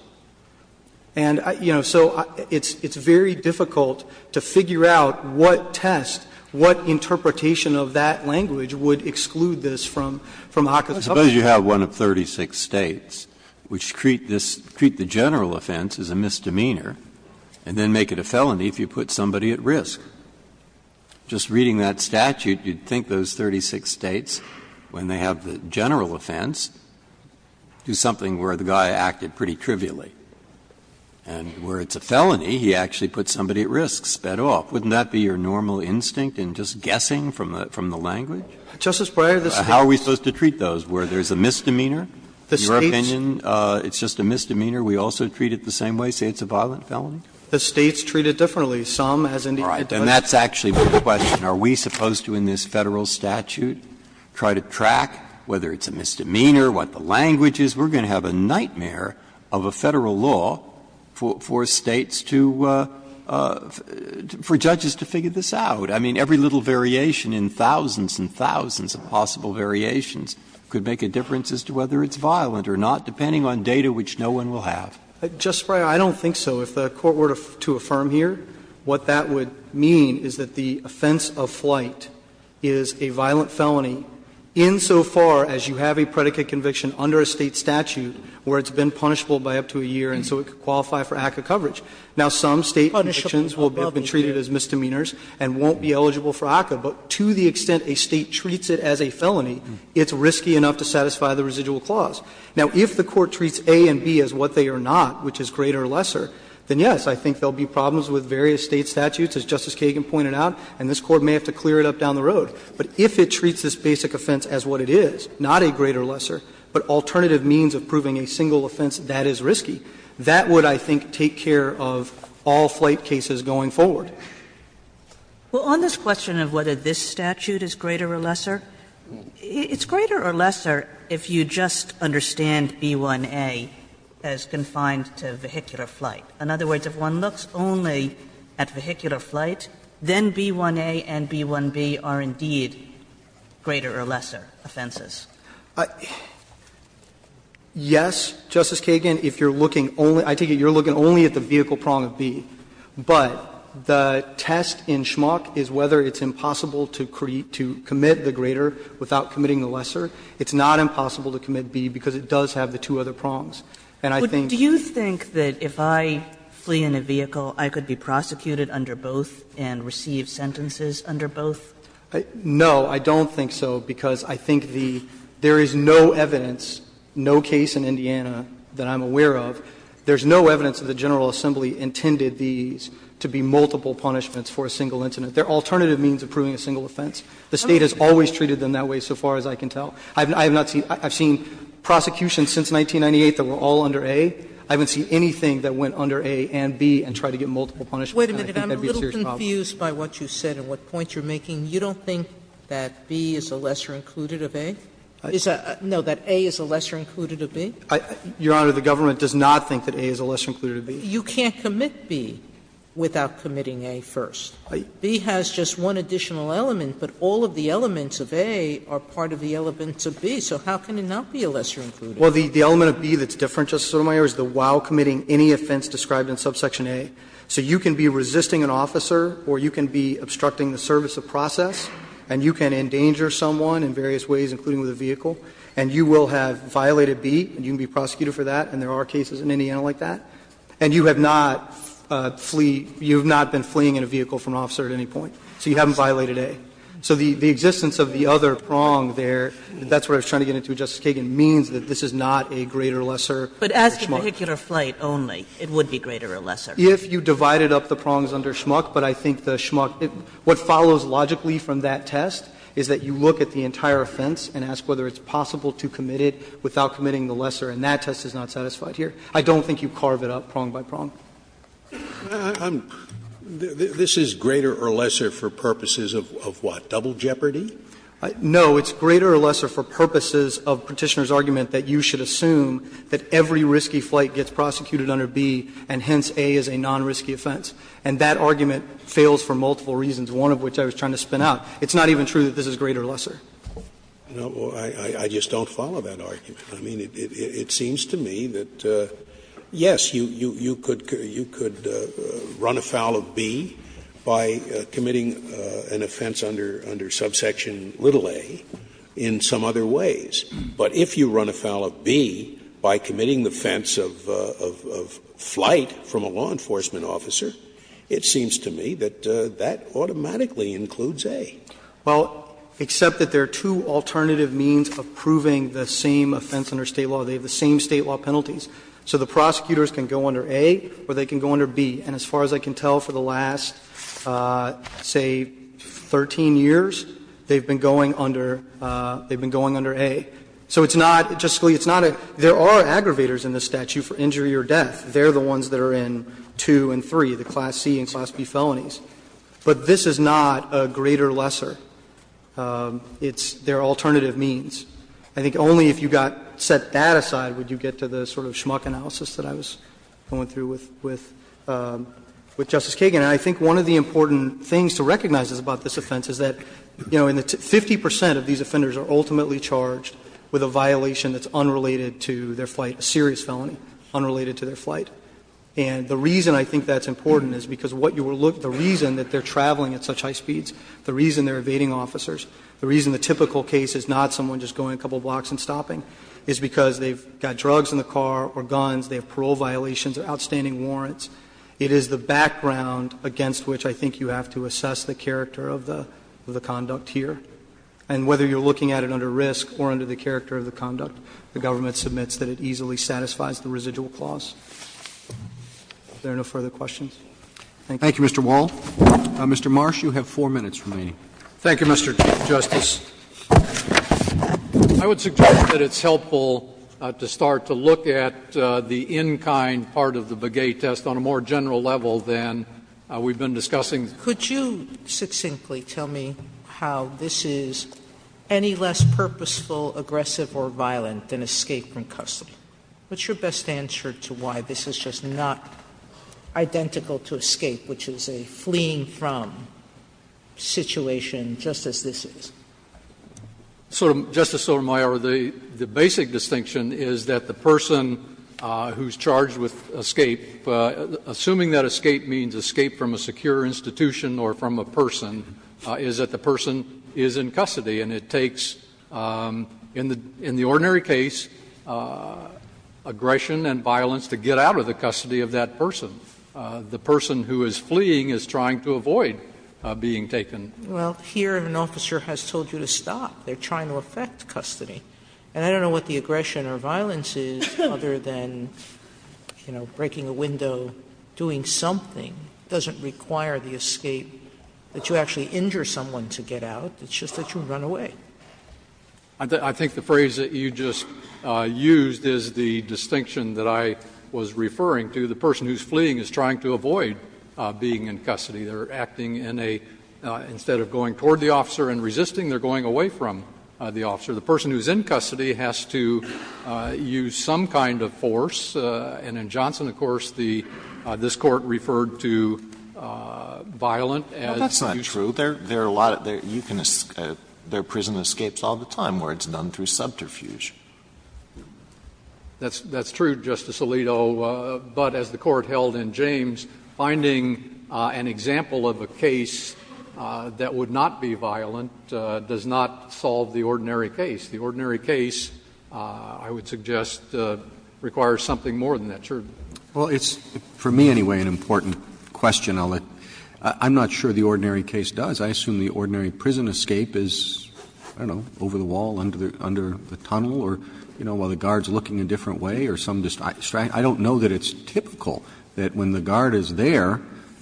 And, you know, so it's very difficult to figure out what test, what target, what interpretation of that language would exclude this from the HACA subpoena. Breyer, I suppose you have one of 36 States, which treat this – treat the general offense as a misdemeanor and then make it a felony if you put somebody at risk. Just reading that statute, you'd think those 36 States, when they have the general offense, do something where the guy acted pretty trivially. And where it's a felony, he actually put somebody at risk, sped off. Wouldn't that be your normal instinct in just guessing from the language? How are we supposed to treat those, where there's a misdemeanor? In your opinion, it's just a misdemeanor, we also treat it the same way, say it's a violent felony? The States treat it differently. Some, as Indiana does. All right. And that's actually the question. Are we supposed to, in this Federal statute, try to track whether it's a misdemeanor, what the language is? We're going to have a nightmare of a Federal law for States to – for judges to figure this out. I mean, every little variation in thousands and thousands of possible variations could make a difference as to whether it's violent or not, depending on data which no one will have. Justice Breyer, I don't think so. If the Court were to affirm here, what that would mean is that the offense of flight is a violent felony insofar as you have a predicate conviction under a State statute where it's been punishable by up to a year and so it could qualify for ACCA coverage. Now, some State convictions will have been treated as misdemeanors and won't be eligible for ACCA, but to the extent a State treats it as a felony, it's risky enough to satisfy the residual clause. Now, if the Court treats A and B as what they are not, which is greater or lesser, then, yes, I think there will be problems with various State statutes, as Justice Breyer said, that may have to clear it up down the road, but if it treats this basic offense as what it is, not a greater or lesser, but alternative means of proving a single offense that is risky, that would, I think, take care of all flight cases going forward. Kagan. Well, on this question of whether this statute is greater or lesser, it's greater or lesser if you just understand B1A as confined to vehicular flight. In other words, if one looks only at vehicular flight, then B1A and B1B are indeed greater or lesser offenses. Yes, Justice Kagan, if you're looking only at the vehicle prong of B. But the test in Schmock is whether it's impossible to commit the greater without committing the lesser. It's not impossible to commit B because it does have the two other prongs. And I think that's the case. If I flee in a vehicle, I could be prosecuted under both and receive sentences under both? No, I don't think so, because I think the – there is no evidence, no case in Indiana that I'm aware of, there's no evidence that the General Assembly intended these to be multiple punishments for a single incident. They're alternative means of proving a single offense. The State has always treated them that way, so far as I can tell. I have not seen – I've seen prosecutions since 1998 that were all under A. I haven't seen anything that went under A and B and tried to get multiple punishments. And I think that would be a serious problem. Sotomayor, I'm a little confused by what you said and what point you're making. You don't think that B is a lesser included of A? No, that A is a lesser included of B? Your Honor, the government does not think that A is a lesser included of B. You can't commit B without committing A first. B has just one additional element, but all of the elements of A are part of the elements of B. So how can it not be a lesser included? Well, the element of B that's different, Justice Sotomayor, is the while committing any offense described in subsection A. So you can be resisting an officer or you can be obstructing the service of process and you can endanger someone in various ways, including with a vehicle, and you will have violated B and you can be prosecuted for that, and there are cases in Indiana like that, and you have not flee – you have not been fleeing in a vehicle from an officer at any point. So you haven't violated A. So the existence of the other prong there, that's what I was trying to get into, Justice Kagan, means that this is not a greater or lesser under Schmuck. But as a vehicular flight only, it would be greater or lesser. If you divided up the prongs under Schmuck, but I think the Schmuck – what follows logically from that test is that you look at the entire offense and ask whether it's possible to commit it without committing the lesser, and that test is not satisfied here. I don't think you carve it up prong by prong. This is greater or lesser for purposes of what, double jeopardy? No, it's greater or lesser for purposes of Petitioner's argument that you should assume that every risky flight gets prosecuted under B, and hence, A is a non-risky offense. And that argument fails for multiple reasons, one of which I was trying to spin out. It's not even true that this is greater or lesser. Scalia, I just don't follow that argument. I mean, it seems to me that, yes, you could – you could run afoul of B by committing an offense under subsection little a in some other ways, but if you run afoul of B by committing the offense of flight from a law enforcement officer, it seems to me that that automatically includes A. Well, except that there are two alternative means of proving the same offense under State law. They have the same State law penalties. So the prosecutors can go under A or they can go under B. And as far as I can tell, for the last, say, 13 years, they've been going under – they've been going under A. So it's not – just, Scalia, it's not a – there are aggravators in this statute for injury or death. They're the ones that are in 2 and 3, the Class C and Class B felonies. But this is not a greater or lesser. It's their alternative means. I think only if you got – set that aside would you get to the sort of schmuck analysis that I was going through with Justice Kagan. And I think one of the important things to recognize about this offense is that, you know, 50 percent of these offenders are ultimately charged with a violation that's unrelated to their flight, a serious felony unrelated to their flight. And the reason I think that's important is because what you will look – the reason that they're traveling at such high speeds, the reason they're evading officers, the reason the typical case is not someone just going a couple blocks and stopping is because they've got drugs in the car or guns, they have parole violations or outstanding warrants. It is the background against which I think you have to assess the character of the conduct here. And whether you're looking at it under risk or under the character of the conduct, the government submits that it easily satisfies the residual clause. Are there no further questions? Thank you. Roberts. Thank you, Mr. Wall. Mr. Marsh, you have 4 minutes remaining. Marsh. Thank you, Mr. Chief Justice. I would suggest that it's helpful to start to look at the in-kind part of the Begay test on a more general level than we've been discussing. Could you succinctly tell me how this is any less purposeful, aggressive, or violent than escape from custody? What's your best answer to why this is just not identical to escape, which is a fleeing from situation, just as this is? Justice Sotomayor, the basic distinction is that the person who's charged with escape, assuming that escape means escape from a secure institution or from a person, is that the person is in custody. And it takes, in the ordinary case, aggression and violence to get out of the custody of that person. The person who is fleeing is trying to avoid being taken. Well, here an officer has told you to stop. They're trying to affect custody. And I don't know what the aggression or violence is, other than, you know, breaking a window, doing something, doesn't require the escape, that you actually injure someone to get out. It's just that you run away. I think the phrase that you just used is the distinction that I was referring to. The person who's fleeing is trying to avoid being in custody. They're acting in a — instead of going toward the officer and resisting, they're going away from the officer. The person who's in custody has to use some kind of force. And in Johnson, of course, the — this Court referred to violent as — Well, that's not true. There are a lot of — you can — there are prison escapes all the time where it's done through subterfuge. That's true, Justice Alito. But as the Court held in James, finding an example of a case that would not be violent does not solve the ordinary case. The ordinary case, I would suggest, requires something more than that. Well, it's, for me anyway, an important question, Alito. I'm not sure the ordinary case does. I assume the ordinary prison escape is, I don't know, over the wall, under the tunnel, or, you know, while the guard's looking a different way, or some distraction. I don't know that it's typical that when the guard is there,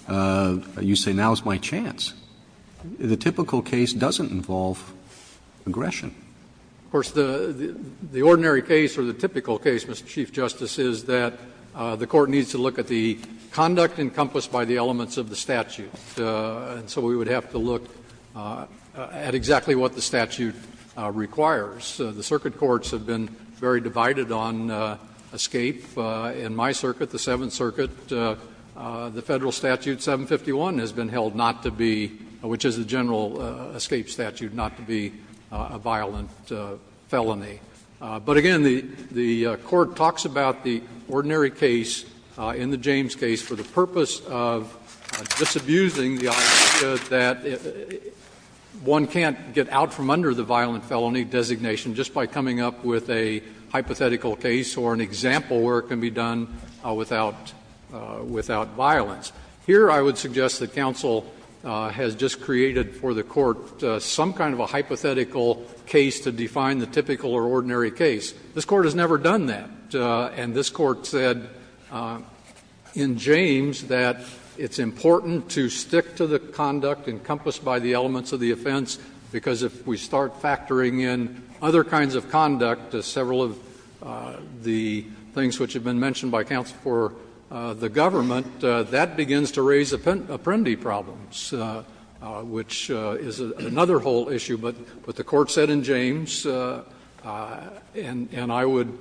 you say, now's my chance. The typical case doesn't involve aggression. Of course, the ordinary case, or the typical case, Mr. Chief Justice, is that the Court needs to look at the conduct encompassed by the elements of the statute. And so we would have to look at exactly what the statute requires. The circuit courts have been very divided on escape. In my circuit, the Seventh Circuit, the Federal Statute 751 has been held not to be — which is the general escape statute — not to be a violent felony. But again, the Court talks about the ordinary case in the James case for the purpose of disabusing the idea that one can't get out from under the violent felony designated situation just by coming up with a hypothetical case or an example where it can be done without violence. Here, I would suggest that counsel has just created for the Court some kind of a hypothetical case to define the typical or ordinary case. This Court has never done that. And this Court said in James that it's important to stick to the conduct encompassed by the elements of the offense, because if we start factoring in other kinds of conduct as several of the things which have been mentioned by counsel for the government, that begins to raise apprendi problems, which is another whole issue. But what the Court said in James, and I would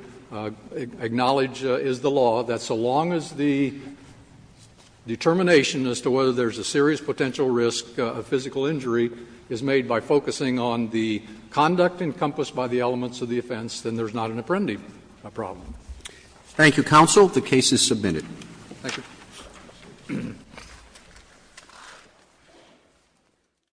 acknowledge is the law, that so long as the determination as to whether there's a serious potential risk of physical injury is made by focusing on the conduct encompassed by the elements of the offense, then there's not an apprendi problem. Thank you, counsel. Thank you.